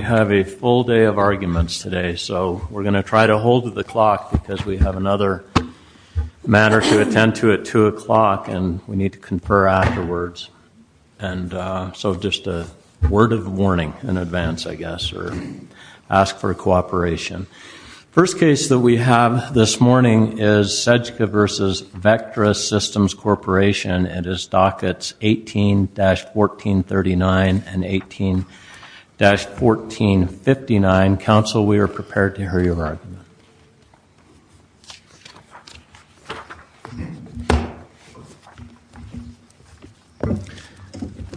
We have a full day of arguments today, so we're going to try to hold the clock because we have another matter to attend to at 2 o'clock, and we need to confer afterwards. And so just a word of warning in advance, I guess, or ask for cooperation. First case that we have this morning is Sejka v. Vectrus Systems Corporation. It is dockets 18-1439 and 18-1459. Counsel, we are prepared to hear your argument.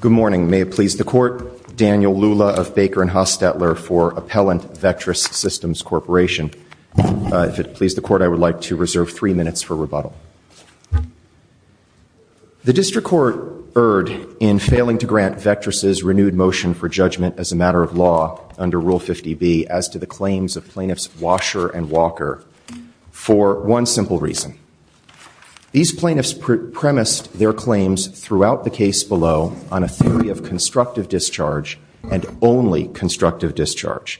Good morning. May it please the court, Daniel Lula of Baker and Hostetler for Appellant Vectrus Systems Corporation. If it please the court, I would like to reserve three minutes for rebuttal. The district court erred in failing to grant Vectrus' renewed motion for judgment as a matter of law under Rule 50B as to the claims of plaintiffs Washer and Walker for one simple reason. These plaintiffs premised their claims throughout the case below on a theory of constructive discharge and only constructive discharge,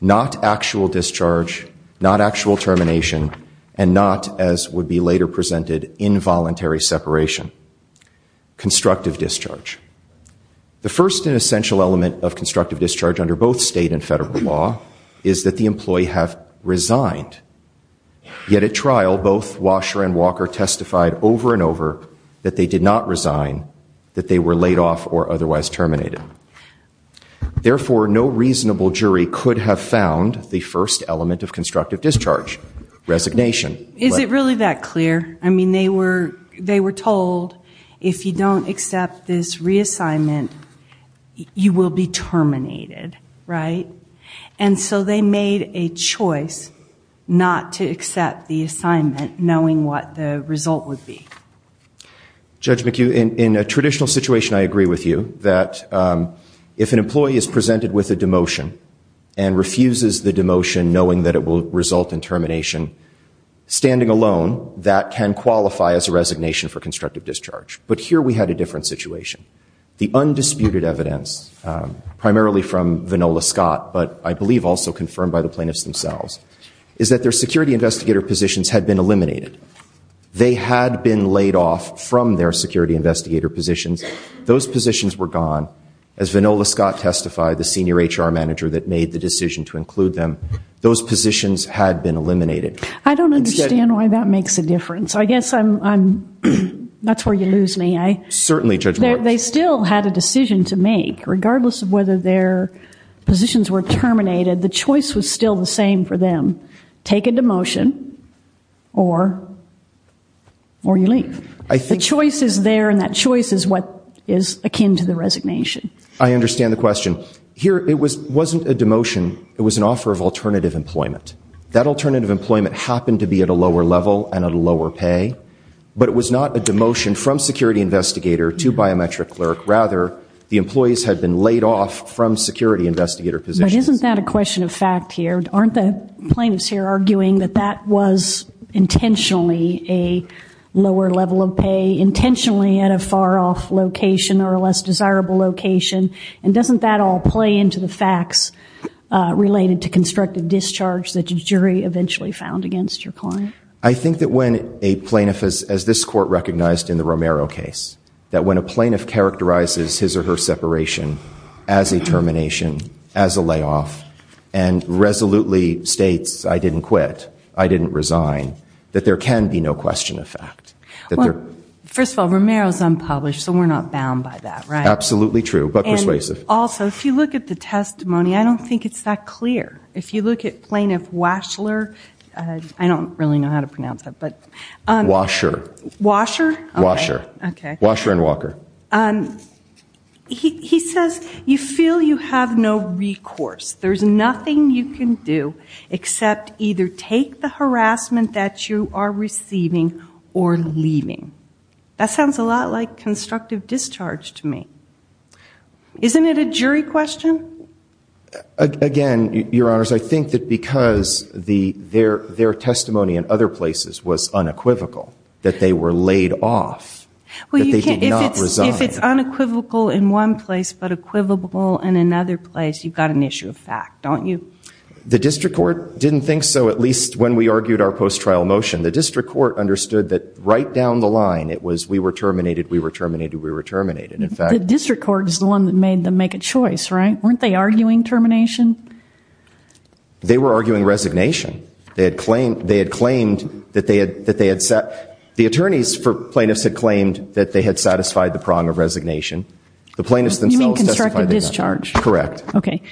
not actual discharge, not actual termination, and not, as would be later presented, involuntary separation. Constructive discharge. The first and essential element of constructive discharge under both state and federal law is that the employee have resigned. Yet at trial, both Washer and Walker testified over and over that they did not resign, that they were laid off or otherwise terminated. Therefore, no reasonable jury could have found the first element of constructive discharge, resignation. Is it really that clear? I mean, they were told if you don't accept this reassignment, you will be terminated, right? And so they made a choice not to accept the assignment knowing what the result would be. Judge McHugh, in a traditional situation, I agree with you that if an employee is presented with a demotion and refuses the demotion knowing that it will result in termination, that can qualify as a resignation for constructive discharge. But here we had a different situation. The undisputed evidence, primarily from Vanola Scott, but I believe also confirmed by the plaintiffs themselves, is that their security investigator positions had been eliminated. They had been laid off from their security investigator positions. Those positions were gone. As Vanola Scott testified, the senior HR manager that made the decision to include them, those positions had been eliminated. I don't understand why that makes a difference. I guess I'm, that's where you lose me. Certainly, Judge Martin. They still had a decision to make. Regardless of whether their positions were terminated, the choice was still the same for them. Take a demotion or you leave. The choice is there and that choice is what is akin to the resignation. I understand the question. Here, it wasn't a demotion. It was an offer of alternative employment. That alternative employment happened to be at a lower level and at a lower pay. But it was not a demotion from security investigator to biometric clerk. Rather, the employees had been laid off from security investigator positions. But isn't that a question of fact here? Aren't the plaintiffs here arguing that that was intentionally a lower level of pay, intentionally at a far off location or a less desirable location? And doesn't that all play into the facts related to constructive discharge that the jury eventually found against your client? I think that when a plaintiff, as this court recognized in the Romero case, that when a plaintiff characterizes his or her separation as a termination, as a layoff, and resolutely states, I didn't quit, I didn't resign, that there can be no question of fact. First of all, Romero's unpublished, so we're not bound by that, right? Absolutely true, but persuasive. Also, if you look at the testimony, I don't think it's that clear. If you look at Plaintiff Waschler, I don't really know how to pronounce that, but... Wascher. Wascher? Wascher. Okay. Wascher and Walker. He says, you feel you have no recourse, there's nothing you can do except either take the harassment that you are receiving or leaving. That sounds a lot like constructive discharge to me. Isn't it a jury question? Again, Your Honors, I think that because their testimony in other places was unequivocal, that they were laid off, that they did not resign. If it's unequivocal in one place, but equivocal in another place, you've got an issue of fact, don't you? The district court didn't think so, at least when we argued our post-trial motion. The district court understood that right down the line, it was we were terminated, we were terminated, we were terminated. In fact... The district court is the one that made them make a choice, right? Weren't they arguing termination? They were arguing resignation. The attorneys for plaintiffs had claimed that they had satisfied the prong of resignation. The plaintiffs themselves testified... You mean constructive discharge? Correct. Okay.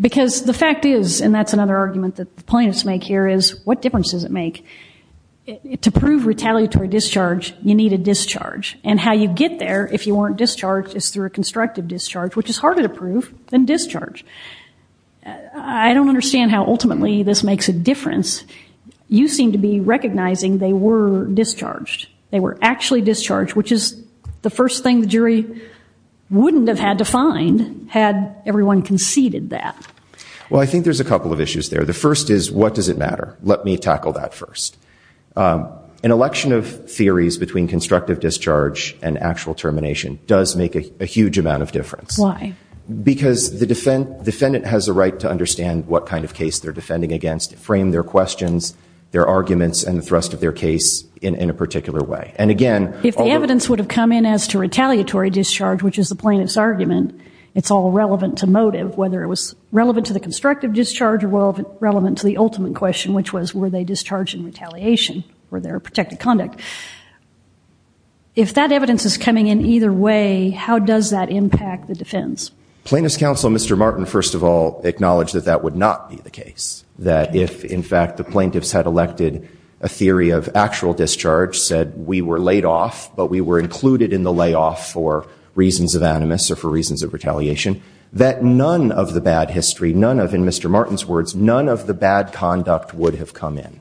Because the fact is, and that's another argument that the plaintiffs make here is, what difference does it make? To prove retaliatory discharge, you need a discharge. And how you get there, if you weren't discharged, is through a constructive discharge, which is harder to prove than discharge. I don't understand how ultimately this makes a difference. You seem to be recognizing they were discharged. They were actually discharged, which is the first thing the jury wouldn't have had to find had everyone conceded that. Well, I think there's a couple of issues there. The first is, what does it matter? Let me tackle that first. An election of theories between constructive discharge and actual termination does make a huge amount of difference. Why? Because the defendant has a right to understand what kind of case they're defending against, frame their questions, their arguments, and the thrust of their case in a particular way. And again... If the evidence would have come in as to retaliatory discharge, which is the plaintiff's argument, it's all relevant to motive, whether it was relevant to the constructive discharge or relevant to the ultimate question, which was, were they discharged in retaliation for their protected conduct? But if that evidence is coming in either way, how does that impact the defense? Plaintiff's counsel, Mr. Martin, first of all, acknowledged that that would not be the That if, in fact, the plaintiffs had elected a theory of actual discharge, said we were laid off, but we were included in the layoff for reasons of animus or for reasons of retaliation, that none of the bad history, none of, in Mr. Martin's words, none of the bad conduct would have come in.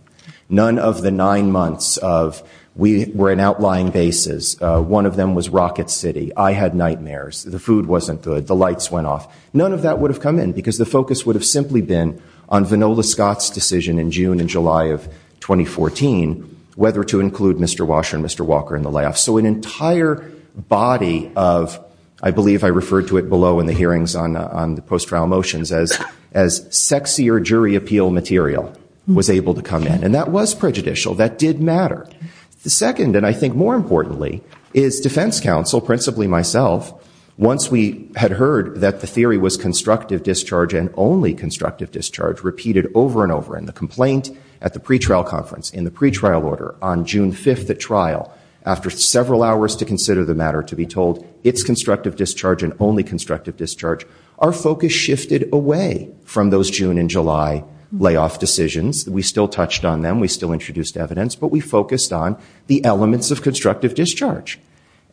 None of the nine months of, we were in outlying bases. One of them was Rocket City. I had nightmares. The food wasn't good. The lights went off. None of that would have come in, because the focus would have simply been on Vanola Scott's decision in June and July of 2014, whether to include Mr. Washer and Mr. Walker in the layoff. So an entire body of, I believe I referred to it below in the hearings on the post-trial motions as sexier jury appeal material was able to come in, and that was prejudicial. That did matter. The second, and I think more importantly, is defense counsel, principally myself, once we had heard that the theory was constructive discharge and only constructive discharge repeated over and over in the complaint, at the pretrial conference, in the pretrial order, on June 5th at trial, after several hours to consider the matter, to be told it's constructive discharge and only constructive discharge, our focus shifted away from those June and July layoff decisions. We still touched on them. We still introduced evidence. But we focused on the elements of constructive discharge.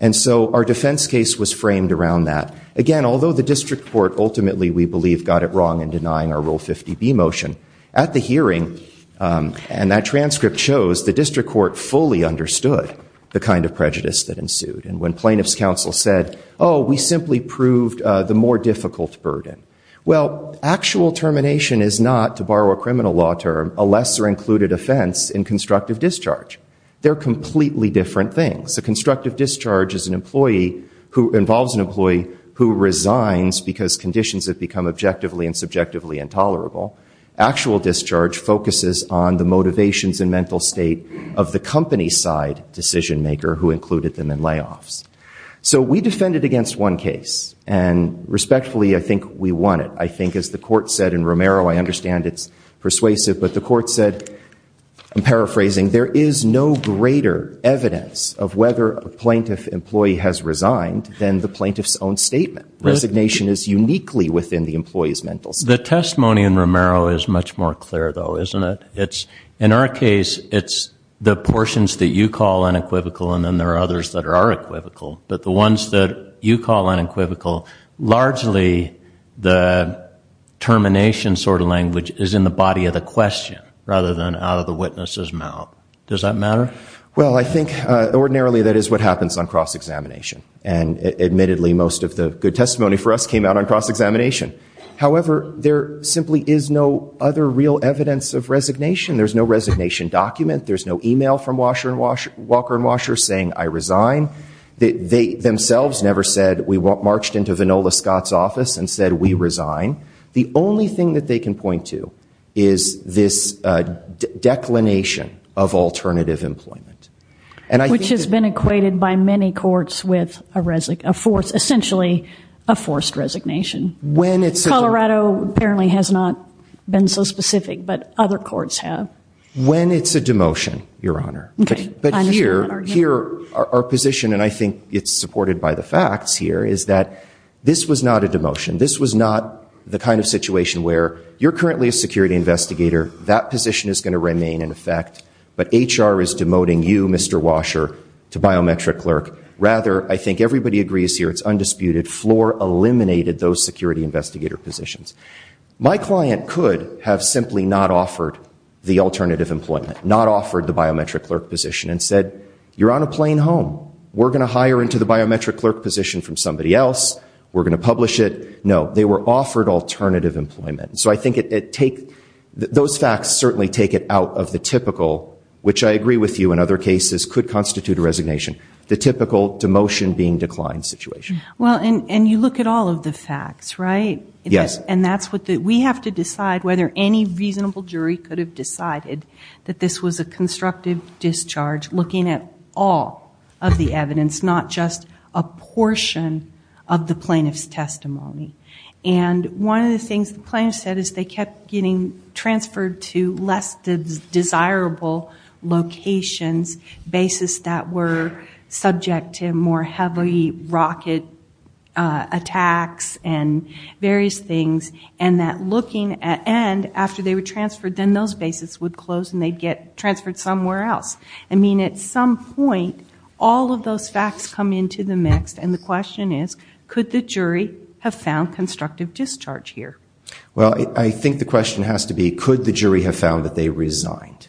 And so our defense case was framed around that. Again, although the district court ultimately, we believe, got it wrong in denying our Rule 50B motion, at the hearing, and that transcript shows, the district court fully understood the kind of prejudice that ensued. And when plaintiff's counsel said, oh, we simply proved the more difficult burden. Well, actual termination is not, to borrow a criminal law term, a lesser included offense in constructive discharge. They're completely different things. A constructive discharge is an employee who involves an employee who resigns because conditions have become objectively and subjectively intolerable. Actual discharge focuses on the motivations and mental state of the company side decision maker who included them in layoffs. So we defended against one case. And respectfully, I think we won it. I think, as the court said in Romero, I understand it's persuasive, but the court said, I'm paraphrasing, there is no greater evidence of whether a plaintiff employee has resigned than the plaintiff's own statement. Resignation is uniquely within the employee's mental state. The testimony in Romero is much more clear, though, isn't it? In our case, it's the portions that you call unequivocal, and then there are others that are unequivocal. But the ones that you call unequivocal, largely the termination sort of language is in the body of the question rather than out of the witness's mouth. Does that matter? Well, I think ordinarily that is what happens on cross-examination. And admittedly, most of the good testimony for us came out on cross-examination. However, there simply is no other real evidence of resignation. There's no resignation document. There's no email from Walker and Washer saying, I resign. They themselves never said, we marched into Vanola Scott's office and said, we resign. The only thing that they can point to is this declination of alternative employment. And I think that- Which has been equated by many courts with essentially a forced resignation. Colorado apparently has not been so specific, but other courts have. When it's a demotion, Your Honor. But here, our position, and I think it's supported by the facts here, is that this was not a demotion. This was not the kind of situation where you're currently a security investigator, that position is going to remain in effect, but HR is demoting you, Mr. Washer, to biometric clerk. Rather, I think everybody agrees here, it's undisputed. The floor eliminated those security investigator positions. My client could have simply not offered the alternative employment, not offered the biometric clerk position, and said, You're on a plane home. We're going to hire into the biometric clerk position from somebody else. We're going to publish it. No, they were offered alternative employment. So I think it take, those facts certainly take it out of the typical, which I agree with you in other cases, could constitute a resignation, the typical demotion being declined situation. Well, and you look at all of the facts, right? Yes. And that's what the, we have to decide whether any reasonable jury could have decided that this was a constructive discharge, looking at all of the evidence, not just a portion of the plaintiff's testimony. And one of the things the plaintiff said is they kept getting transferred to less desirable locations, bases that were subject to more heavy rocket attacks and various things. And that looking at end, after they were transferred, then those bases would close and they'd get transferred somewhere else. I mean, at some point, all of those facts come into the mix. And the question is, could the jury have found constructive discharge here? Well, I think the question has to be, could the jury have found that they resigned?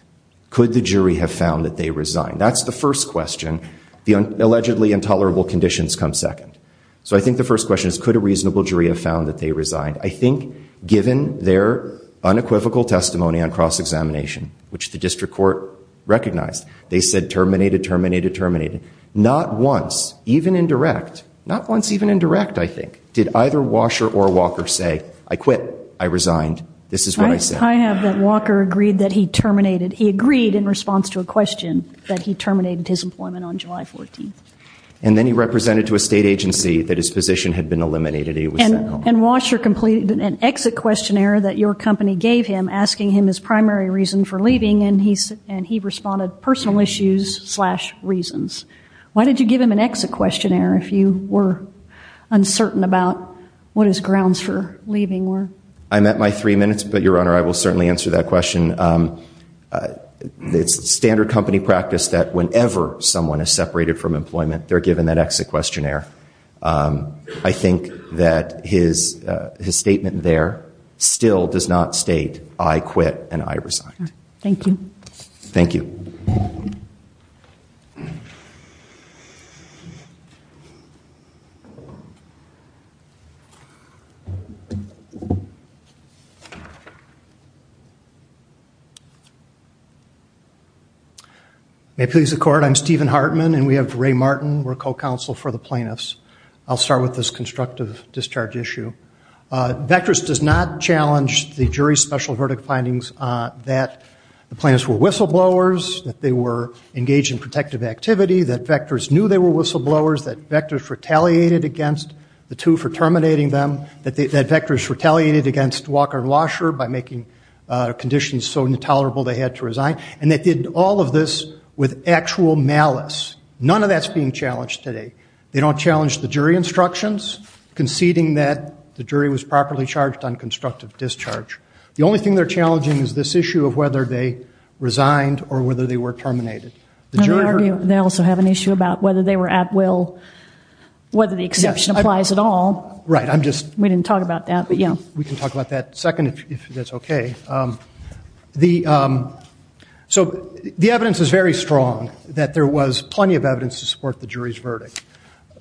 Could the jury have found that they resigned? That's the first question. The allegedly intolerable conditions come second. So I think the first question is, could a reasonable jury have found that they resigned? I think given their unequivocal testimony on cross-examination, which the district court recognized, they said terminated, terminated, terminated. Not once, even indirect, not once even indirect, I think, did either Washer or Walker say, I quit, I resigned, this is what I said. I have that Walker agreed that he terminated, he agreed in response to a question that he terminated his employment on July 14th. And then he represented to a state agency that his position had been eliminated. And Washer completed an exit questionnaire that your company gave him, asking him his primary reason for leaving, and he responded, personal issues slash reasons. Why did you give him an exit questionnaire if you were uncertain about what his grounds for leaving were? I'm at my three minutes, but your Honor, I will certainly answer that question. It's standard company practice that whenever someone is separated from employment, they're given that exit questionnaire. I think that his statement there still does not state, I quit and I resigned. Thank you. Thank you. May it please the Court, I'm Stephen Hartman, and we have Ray Martin, we're co-counsel for the plaintiffs. I'll start with this constructive discharge issue. Vectris does not challenge the jury's special verdict findings that the plaintiffs were whistleblowers, that they were engaged in protective activity, that Vectris knew they were whistleblowers, that Vectris retaliated against the two for terminating them, that Vectris retaliated against Walker and Washer by making conditions so intolerable they had to resign. And they did all of this with actual malice. None of that's being challenged today. They don't challenge the jury instructions conceding that the jury was properly charged on constructive discharge. The only thing they're challenging is this issue of whether they resigned or whether they were terminated. And they also have an issue about whether they were at will, whether the exception applies at all. Right, I'm just... We didn't talk about that, but yeah. We can talk about that in a second if that's okay. Okay, so the evidence is very strong that there was plenty of evidence to support the jury's verdict.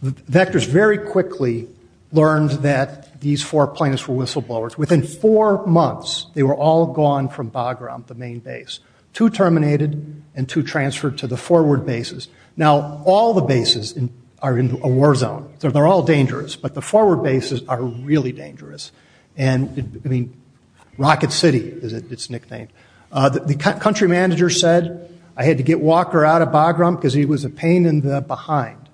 Vectris very quickly learned that these four plaintiffs were whistleblowers. Within four months, they were all gone from Bagram, the main base. Two terminated and two transferred to the forward bases. Now all the bases are in a war zone, so they're all dangerous. But the forward bases are really dangerous. I mean, Rocket City is its nickname. The country manager said, I had to get Walker out of Bagram because he was a pain in the behind.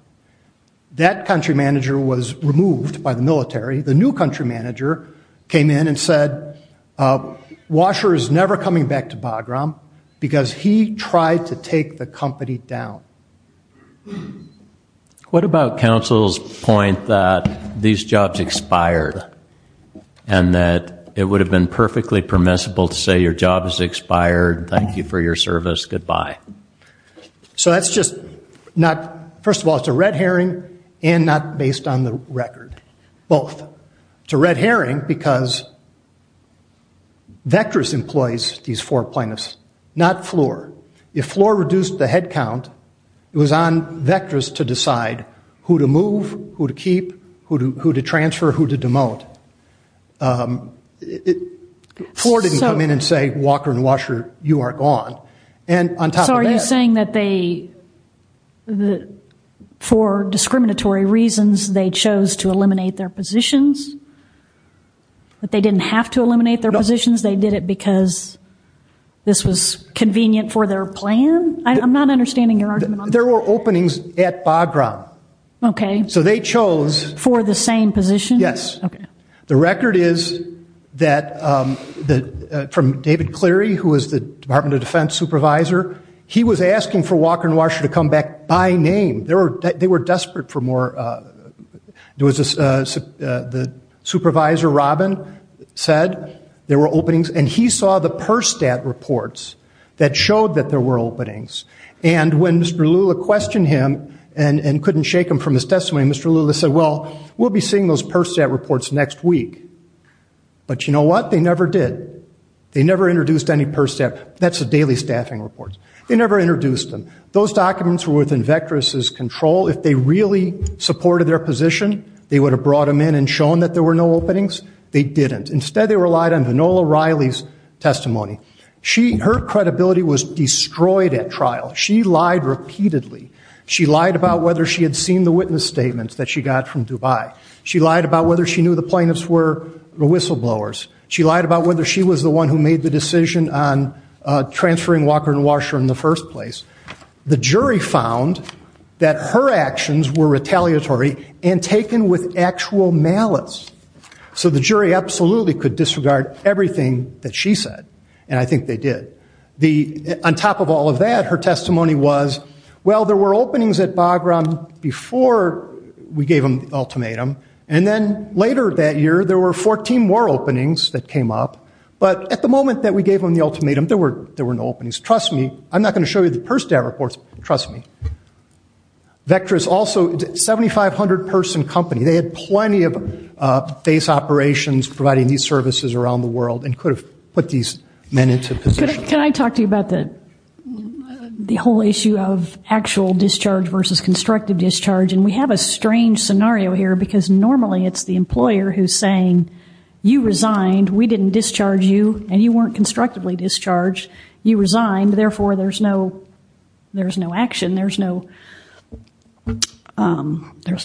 That country manager was removed by the military. The new country manager came in and said, Washer is never coming back to Bagram because he tried to take the company down. What about counsel's point that these jobs expired and that it would have been perfectly permissible to say your job is expired, thank you for your service, goodbye? So that's just not... First of all, it's a red herring and not based on the record. Both. It's a red herring because Vectris employs these four plaintiffs, not Floor. If Floor reduced the head count, it was on Vectris to decide who to move, who to keep, who to transfer, who to demote. Floor didn't come in and say, Walker and Washer, you are gone. And on top of that... So are you saying that they, for discriminatory reasons, they chose to eliminate their positions? That they didn't have to eliminate their positions? They did it because this was convenient for their plan? I'm not understanding your argument on that. There were openings at Bagram. Okay. So they chose... For the same positions? Yes. Okay. The record is that from David Cleary, who was the Department of Defense supervisor, he was asking for Walker and Washer to come back by name. They were desperate for more... The supervisor, Robin, said there were openings. And he saw the PERSTAT reports that showed that there were openings. And when Mr. Lula questioned him and couldn't shake him from his testimony, Mr. Lula said, well, we'll be seeing those PERSTAT reports next week. But you know what? They never did. They never introduced any PERSTAT. That's the daily staffing reports. They never introduced them. Those documents were within Vectris' control. If they really supported their position, they would have brought them in and shown that there were no openings. They didn't. Instead, they relied on Vanola Riley's testimony. Her credibility was destroyed at trial. She lied repeatedly. She lied about whether she had seen the witness statements that she got from Dubai. She lied about whether she knew the plaintiffs were whistleblowers. She lied about whether she was the one who made the decision on transferring Walker and Washer in the first place. The jury found that her actions were retaliatory and taken with actual malice. So the jury absolutely could disregard everything that she said. And I think they did. On top of all of that, her testimony was, well, there were openings at Bagram before we gave them the ultimatum. And then later that year, there were 14 more openings that came up. But at the moment that we gave them the ultimatum, there were no openings. Trust me, I'm not going to show you the PERSTAB reports, but trust me, Vectra is also a 7,500 person company. They had plenty of base operations providing these services around the world and could have put these men into position. Can I talk to you about the whole issue of actual discharge versus constructive discharge? And we have a strange scenario here because normally it's the employer who's saying, you resigned, we didn't discharge you, and you weren't constructively discharged. You resigned, therefore there's no action, there's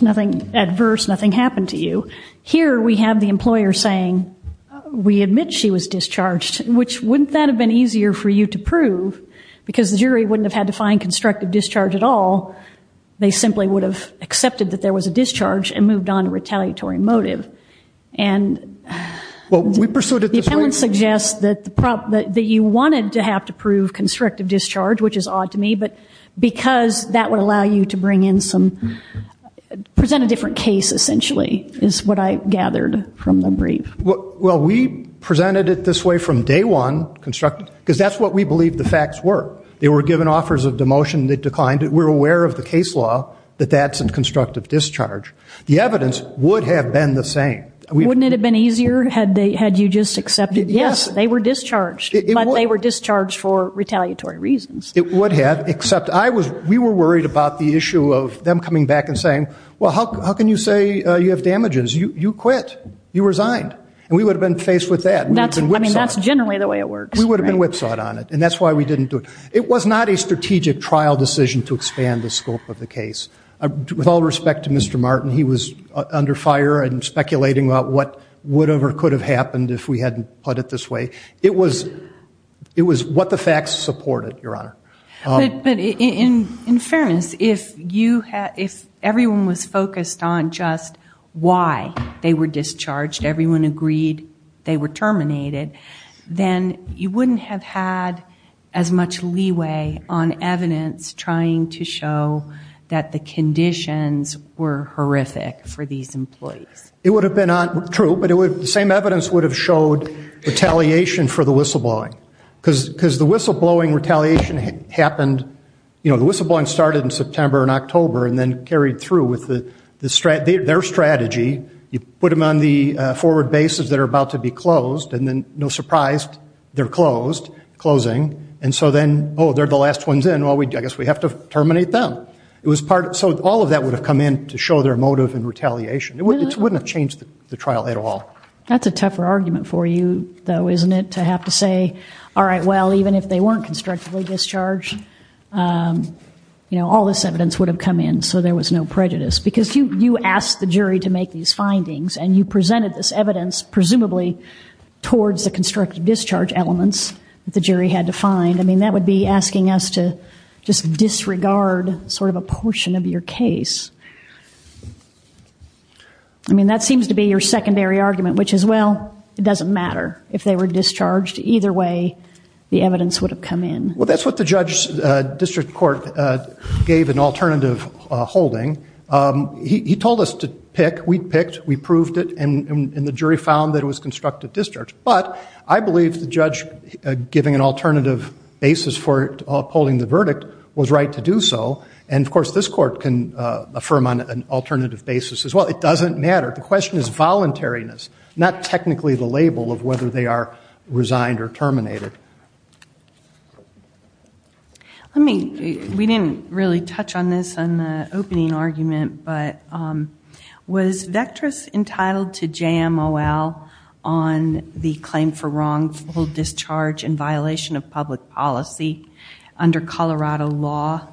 nothing adverse, nothing happened to you. Here we have the employer saying, we admit she was discharged, which wouldn't that have been easier for you to prove? Because the jury wouldn't have had to find constructive discharge at all. They simply would have accepted that there was a discharge and moved on to retaliatory motive. And the appellant suggests that you wanted to have to prove constructive discharge, which is odd to me, but because that would allow you to present a different case essentially is what I gathered from the brief. Well, we presented it this way from day one, because that's what we believe the facts were. They were given offers of demotion, they declined it. We're aware of the case law that that's a constructive discharge. The evidence would have been the same. Wouldn't it have been easier had you just accepted, yes, they were discharged, but they were discharged for retaliatory reasons. It would have, except we were worried about the issue of them coming back and saying, well, how can you say you have damages? You quit. You resigned. And we would have been faced with that. I mean, that's generally the way it works. We would have been whipsawed on it, and that's why we didn't do it. It was not a strategic trial decision to expand the scope of the case. With all respect to Mr. Martin, he was under fire and speculating about what would have or could have happened if we hadn't put it this way. It was what the facts supported, Your Honor. But in fairness, if everyone was focused on just why they were discharged, everyone agreed they were terminated, then you wouldn't have had as much leeway on evidence trying to show that the conditions were horrific for these employees. It would have been true, but the same evidence would have showed retaliation for the whistleblowing. Because the whistleblowing retaliation happened, you know, the whistleblowing started in September and October and then carried through with their strategy. You put them on the forward bases that are about to be closed, and then, no surprise, they're closed, closing. And so then, oh, they're the last ones in. Well, I guess we have to terminate them. So all of that would have come in to show their motive and retaliation. It wouldn't have changed the trial at all. That's a tougher argument for you, though, isn't it, to have to say, all right, well, even if they weren't constructively discharged, all this evidence would have come in so there was no prejudice. Because you asked the jury to make these findings, and you presented this evidence, presumably towards the constructive discharge elements that the jury had to find. I mean, that would be asking us to just disregard sort of a portion of your case. I mean, that seems to be your secondary argument, which is, well, it doesn't matter if they were discharged. Either way, the evidence would have come in. Well, that's what the judge's district court gave an alternative holding. He told us to pick. We picked. We proved it. And the jury found that it was constructive discharge. But I believe the judge giving an alternative basis for upholding the verdict was right to do so. And of course, this court can affirm on an alternative basis as well. It doesn't matter. The question is voluntariness, not technically the label of whether they are resigned or terminated. Let me, we didn't really touch on this in the opening argument, but was Vectris entitled to JMOL on the claim for wrongful discharge in violation of public policy under Colorado law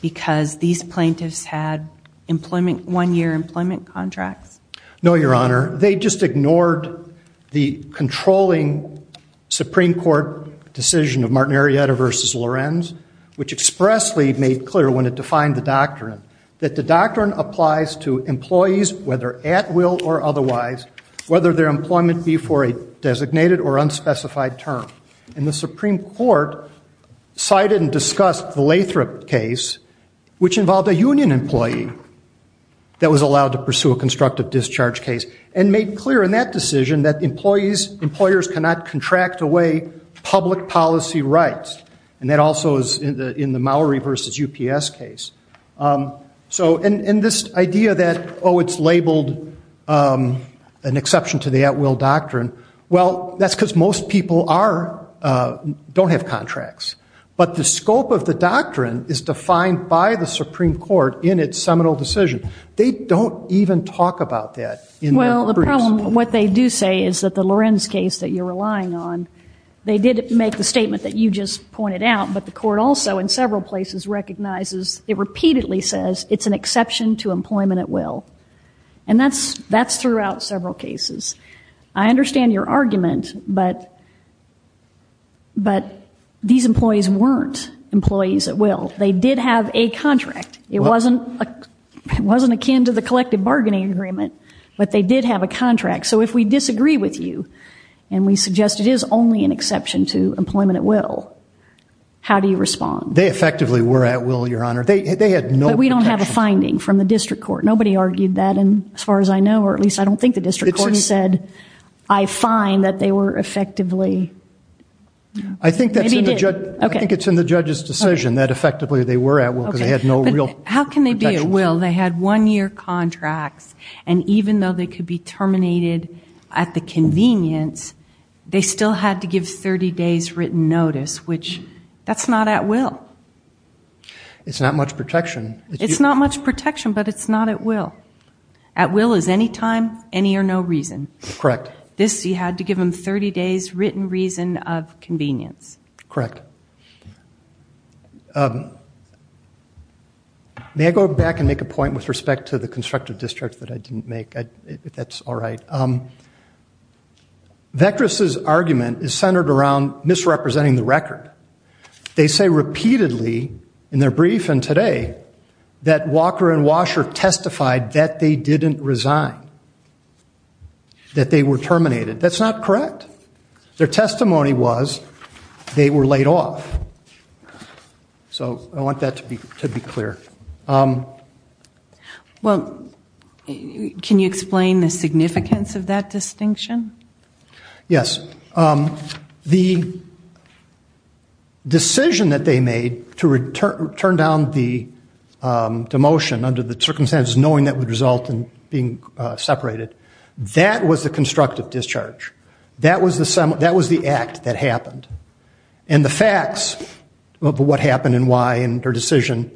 because these plaintiffs had employment, one-year employment contracts? No, Your Honor. They just ignored the controlling Supreme Court decision of Martin Arrieta versus Lorenz, which expressly made clear when it defined the doctrine that the doctrine applies to employees, whether at will or otherwise, whether their employment be for a designated or unspecified term. And the Supreme Court cited and discussed the Lathrop case, which involved a union employee that was allowed to pursue a constructive discharge case and made clear in that decision that employees, employers cannot contract away public policy rights. And that also is in the Maori versus UPS case. So in this idea that, oh, it's labeled an exception to the at-will doctrine, well, that's because most people are, don't have contracts. But the scope of the doctrine is defined by the Supreme Court in its seminal decision. They don't even talk about that in their briefs. Well, the problem, what they do say is that the Lorenz case that you're relying on, they did make the statement that you just pointed out, but the court also in several places recognizes, it repeatedly says it's an exception to employment at will. And that's throughout several cases. I understand your argument, but these employees weren't employees at will. They did have a contract. It wasn't akin to the collective bargaining agreement, but they did have a contract. So if we disagree with you and we suggest it is only an exception to employment at will, how do you respond? They effectively were at will, Your Honor. They had no protection. But we don't have a finding from the district court. Nobody argued that, as far as I know, or at least I don't think the district court said. I find that they were effectively. I think it's in the judge's decision that effectively they were at will because they had no real protection. How can they be at will? They had one year contracts and even though they could be terminated at the convenience, they still had to give 30 days written notice, which that's not at will. It's not much protection. It's not much protection, but it's not at will. At will is any time, any or no reason. This, you had to give them 30 days written reason of convenience. Correct. May I go back and make a point with respect to the constructive district that I didn't make? That's all right. Vekras's argument is centered around misrepresenting the record. They say repeatedly in their brief and today that Walker and Washer testified that they were terminated. That's not correct. Their testimony was they were laid off. So I want that to be clear. Well, can you explain the significance of that distinction? Yes. The decision that they made to return down the demotion under the circumstances, knowing that would result in being separated, that was the constructive discharge. That was the act that happened. And the facts of what happened and why and their decision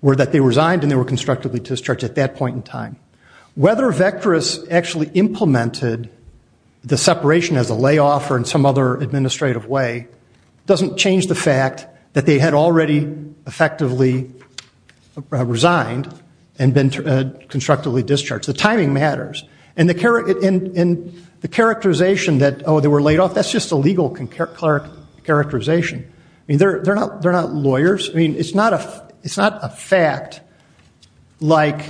were that they resigned and they were constructively discharged at that point in time. Whether Vekras actually implemented the separation as a layoff or in some other administrative way doesn't change the fact that they had already effectively resigned and been constructively discharged. The timing matters. And the characterization that, oh, they were laid off, that's just a legal characterization. I mean, they're not lawyers. I mean, it's not a fact like,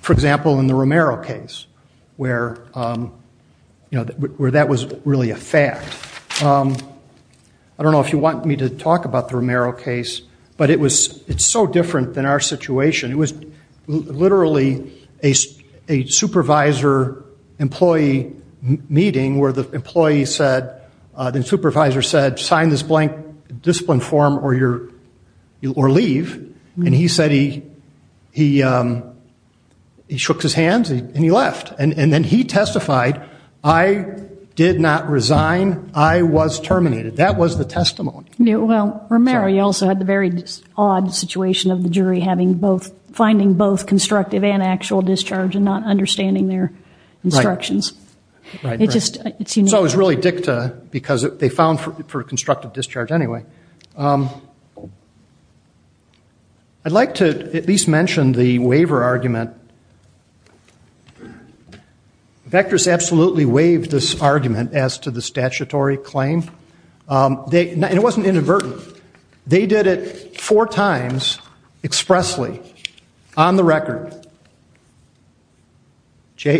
for example, in the Romero case where that was really a fact. I don't know if you want me to talk about the Romero case, but it's so different than our situation. It was literally a supervisor employee meeting where the supervisor said, sign this blank discipline form or leave. And he said he shook his hands and he left. And then he testified, I did not resign. I was terminated. That was the testimony. Well, Romero, you also had the very odd situation of the jury finding both constructive and actual discharge and not understanding their instructions. So it was really dicta because they found for constructive discharge anyway. I'd like to at least mention the waiver argument. Vekras absolutely waived this argument as to the statutory claim. And it wasn't inadvertent. They did it four times expressly on the record. JA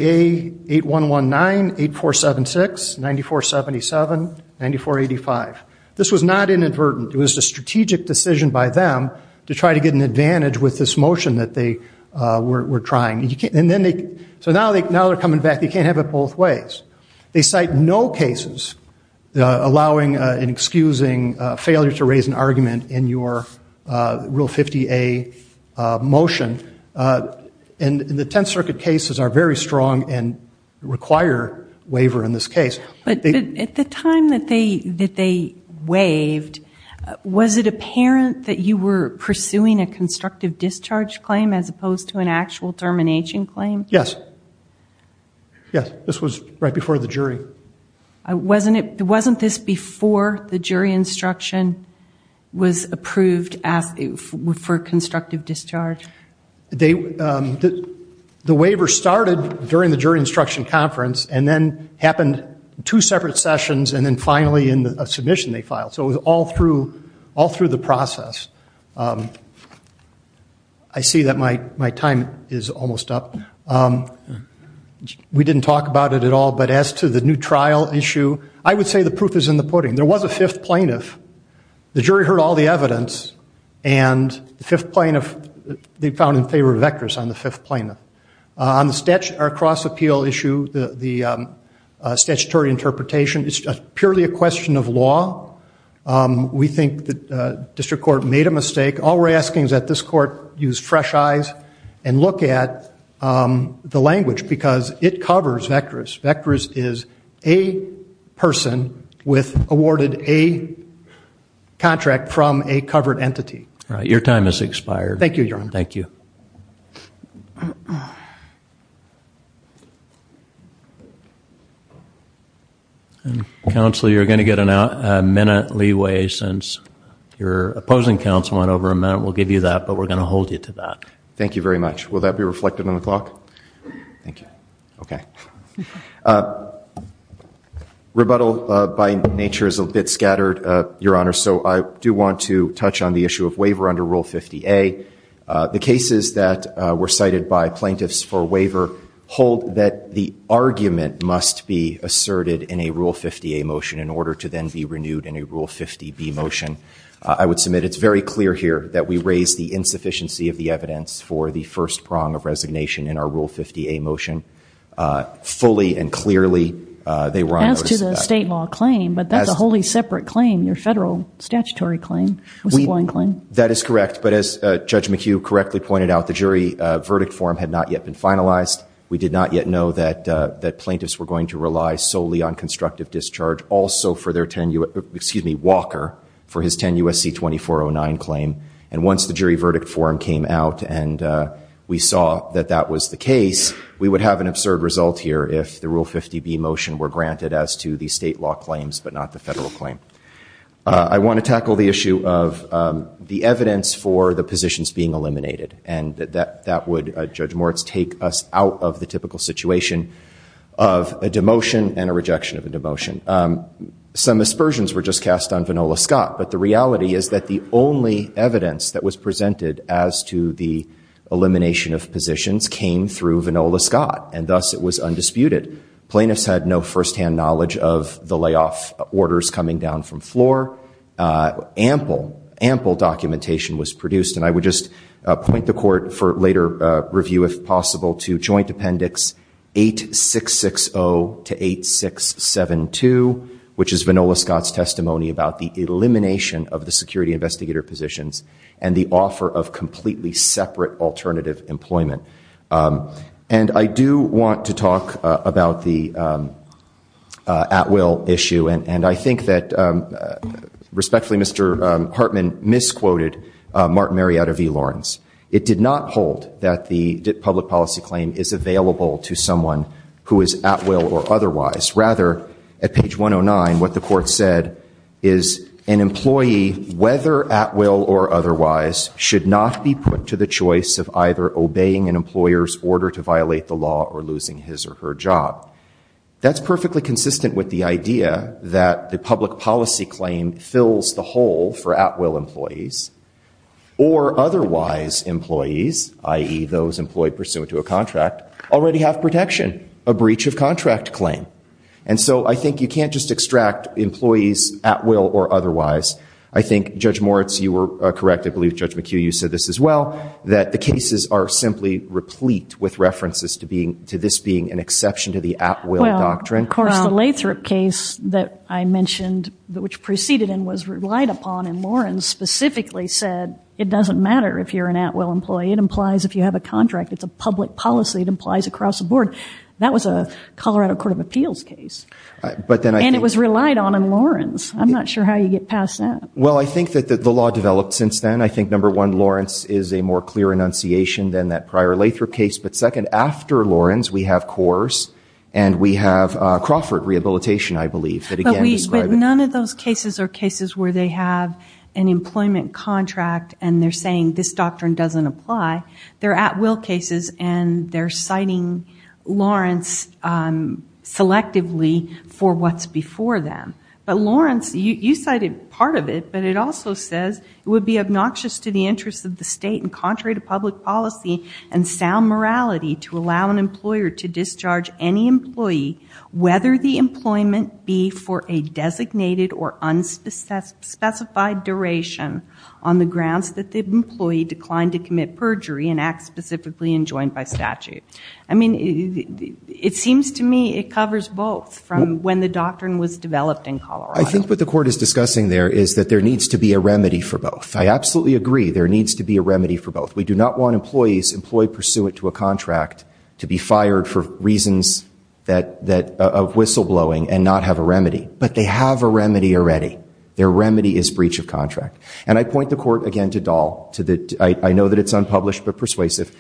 8119, 8476, 9477, 9485. This was not inadvertent. It was a strategic decision by them to try to get an advantage with this motion that they were trying. So now they're coming back. They can't have it both ways. They cite no cases allowing and excusing failure to raise an argument in your Rule 50A motion. And the Tenth Circuit cases are very strong and require waiver in this case. But at the time that they waived, was it apparent that you were pursuing a constructive discharge claim as opposed to an actual termination claim? Yes. Yes, this was right before the jury. Wasn't this before the jury instruction was approved for constructive discharge? The waiver started during the jury instruction conference and then happened two separate sessions and then finally in a submission they filed. So it was all through the process. I see that my time is almost up. We didn't talk about it at all. But as to the new trial issue, I would say the proof is in the pudding. There was a fifth plaintiff. The jury heard all the evidence. And the fifth plaintiff, they found in favor of Eckers on the fifth plaintiff. On the cross-appeal issue, the statutory interpretation, it's purely a question of law. We think the district court made a mistake. All we're asking is that this court use fresh eyes and look at the language. Because it covers Vekras. Vekras is a person awarded a contract from a covered entity. All right. Your time has expired. Thank you, Your Honor. Thank you. Counsel, you're going to get a minute leeway since your opposing counsel went over a minute. We'll give you that. But we're going to hold you to that. Thank you very much. Will that be reflected on the clock? Thank you. Okay. Rebuttal by nature is a bit scattered, Your Honor. So I do want to touch on the issue of waiver under Rule 50A. The cases that were cited by plaintiffs for waiver hold that the argument must be asserted in a Rule 50A motion in order to then be renewed in a Rule 50B motion. I would submit it's very clear here that we raise the insufficiency of the evidence for the first prong of resignation in our Rule 50A motion. Fully and clearly, they were on notice of that. As to the state law claim, but that's a wholly separate claim. Your federal statutory claim was a blind claim. That is correct. But as Judge McHugh correctly pointed out, the jury verdict form had not yet been finalized. We did not yet know that plaintiffs were going to rely solely on constructive discharge, also for their 10- excuse me, Walker, for his 10 U.S.C. 2409 claim. And once the jury verdict form came out and we saw that that was the case, we would have an absurd result here if the Rule 50B motion were granted as to the state law claims, but not the federal claim. I want to tackle the issue of the evidence for the positions being eliminated, and that would, Judge Moritz, take us out of the typical situation of a demotion and a rejection of a demotion. Some aspersions were just cast on Vanola Scott, but the reality is that the only evidence that was presented as to the elimination of positions came through Vanola Scott, and thus it was undisputed. Plaintiffs had no firsthand knowledge of the layoff orders coming down from floor. Ample, ample documentation was produced, and I would just point the Court for later review, if possible, to Joint Appendix 8660 to 8672, which is Vanola Scott's testimony about the elimination of the security investigator positions and the offer of completely separate alternative employment. And I do want to talk about the at-will issue, and I think that, respectfully, Mr. Hartman misquoted Martin Marietta v. Lawrence. It did not hold that the public policy claim is available to someone who is at-will or otherwise. Rather, at page 109, what the Court said is an employee, whether at-will or otherwise, should not be put to the choice of either obeying an employer's order to violate the law or losing his or her job. That's perfectly consistent with the idea that the public policy claim fills the hole for at-will employees or otherwise employees, i.e., those employed pursuant to a contract, already have protection, a breach of contract claim. And so I think you can't just extract employees at-will or otherwise. I think, Judge Moritz, you were correct. I believe, Judge McHugh, you said this as well, that the cases are simply replete with references to this being an exception to the at-will doctrine. Of course, the Lathrop case that I mentioned, which proceeded and was relied upon in Lawrence, specifically said it doesn't matter if you're an at-will employee. It implies if you have a contract. It's a public policy. It implies across the board. That was a Colorado Court of Appeals case. And it was relied on in Lawrence. I'm not sure how you get past that. Well, I think that the law developed since then. I think, number one, Lawrence is a more clear enunciation than that prior Lathrop case. But second, after Lawrence, we have Coors and we have Crawford Rehabilitation, I believe, that again describe it. But none of those cases are cases where they have an employment contract and they're saying this doctrine doesn't apply. They're at-will cases and they're citing Lawrence selectively for what's before them. But Lawrence, you cited part of it. But it also says it would be obnoxious to the interests of the state and contrary to public policy and sound morality to allow an employer to discharge any employee whether the employment be for a designated or unspecified duration on the grounds that the employee declined to commit perjury and act specifically enjoined by statute. I mean, it seems to me it covers both from when the doctrine was developed in Colorado. I think what the court is discussing there is that there needs to be a remedy for both. I absolutely agree. There needs to be a remedy for both. We do not want employees employed pursuant to a contract to be fired for reasons of whistleblowing and not have a remedy. But they have a remedy already. Their remedy is breach of contract. And I point the court, again, to Dahl. I know that it's unpublished but persuasive.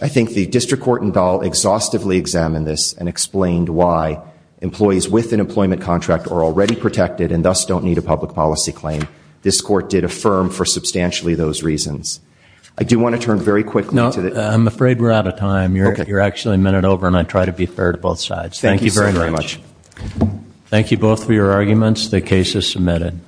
I think the district court in Dahl exhaustively examined this and explained why employees with an employment contract are already protected and thus don't need a public policy claim. This court did affirm for substantially those reasons. I do want to turn very quickly to the- I'm afraid we're out of time. You're actually a minute over and I try to be fair to both sides. Thank you very much. Thank you both for your arguments. The case is submitted.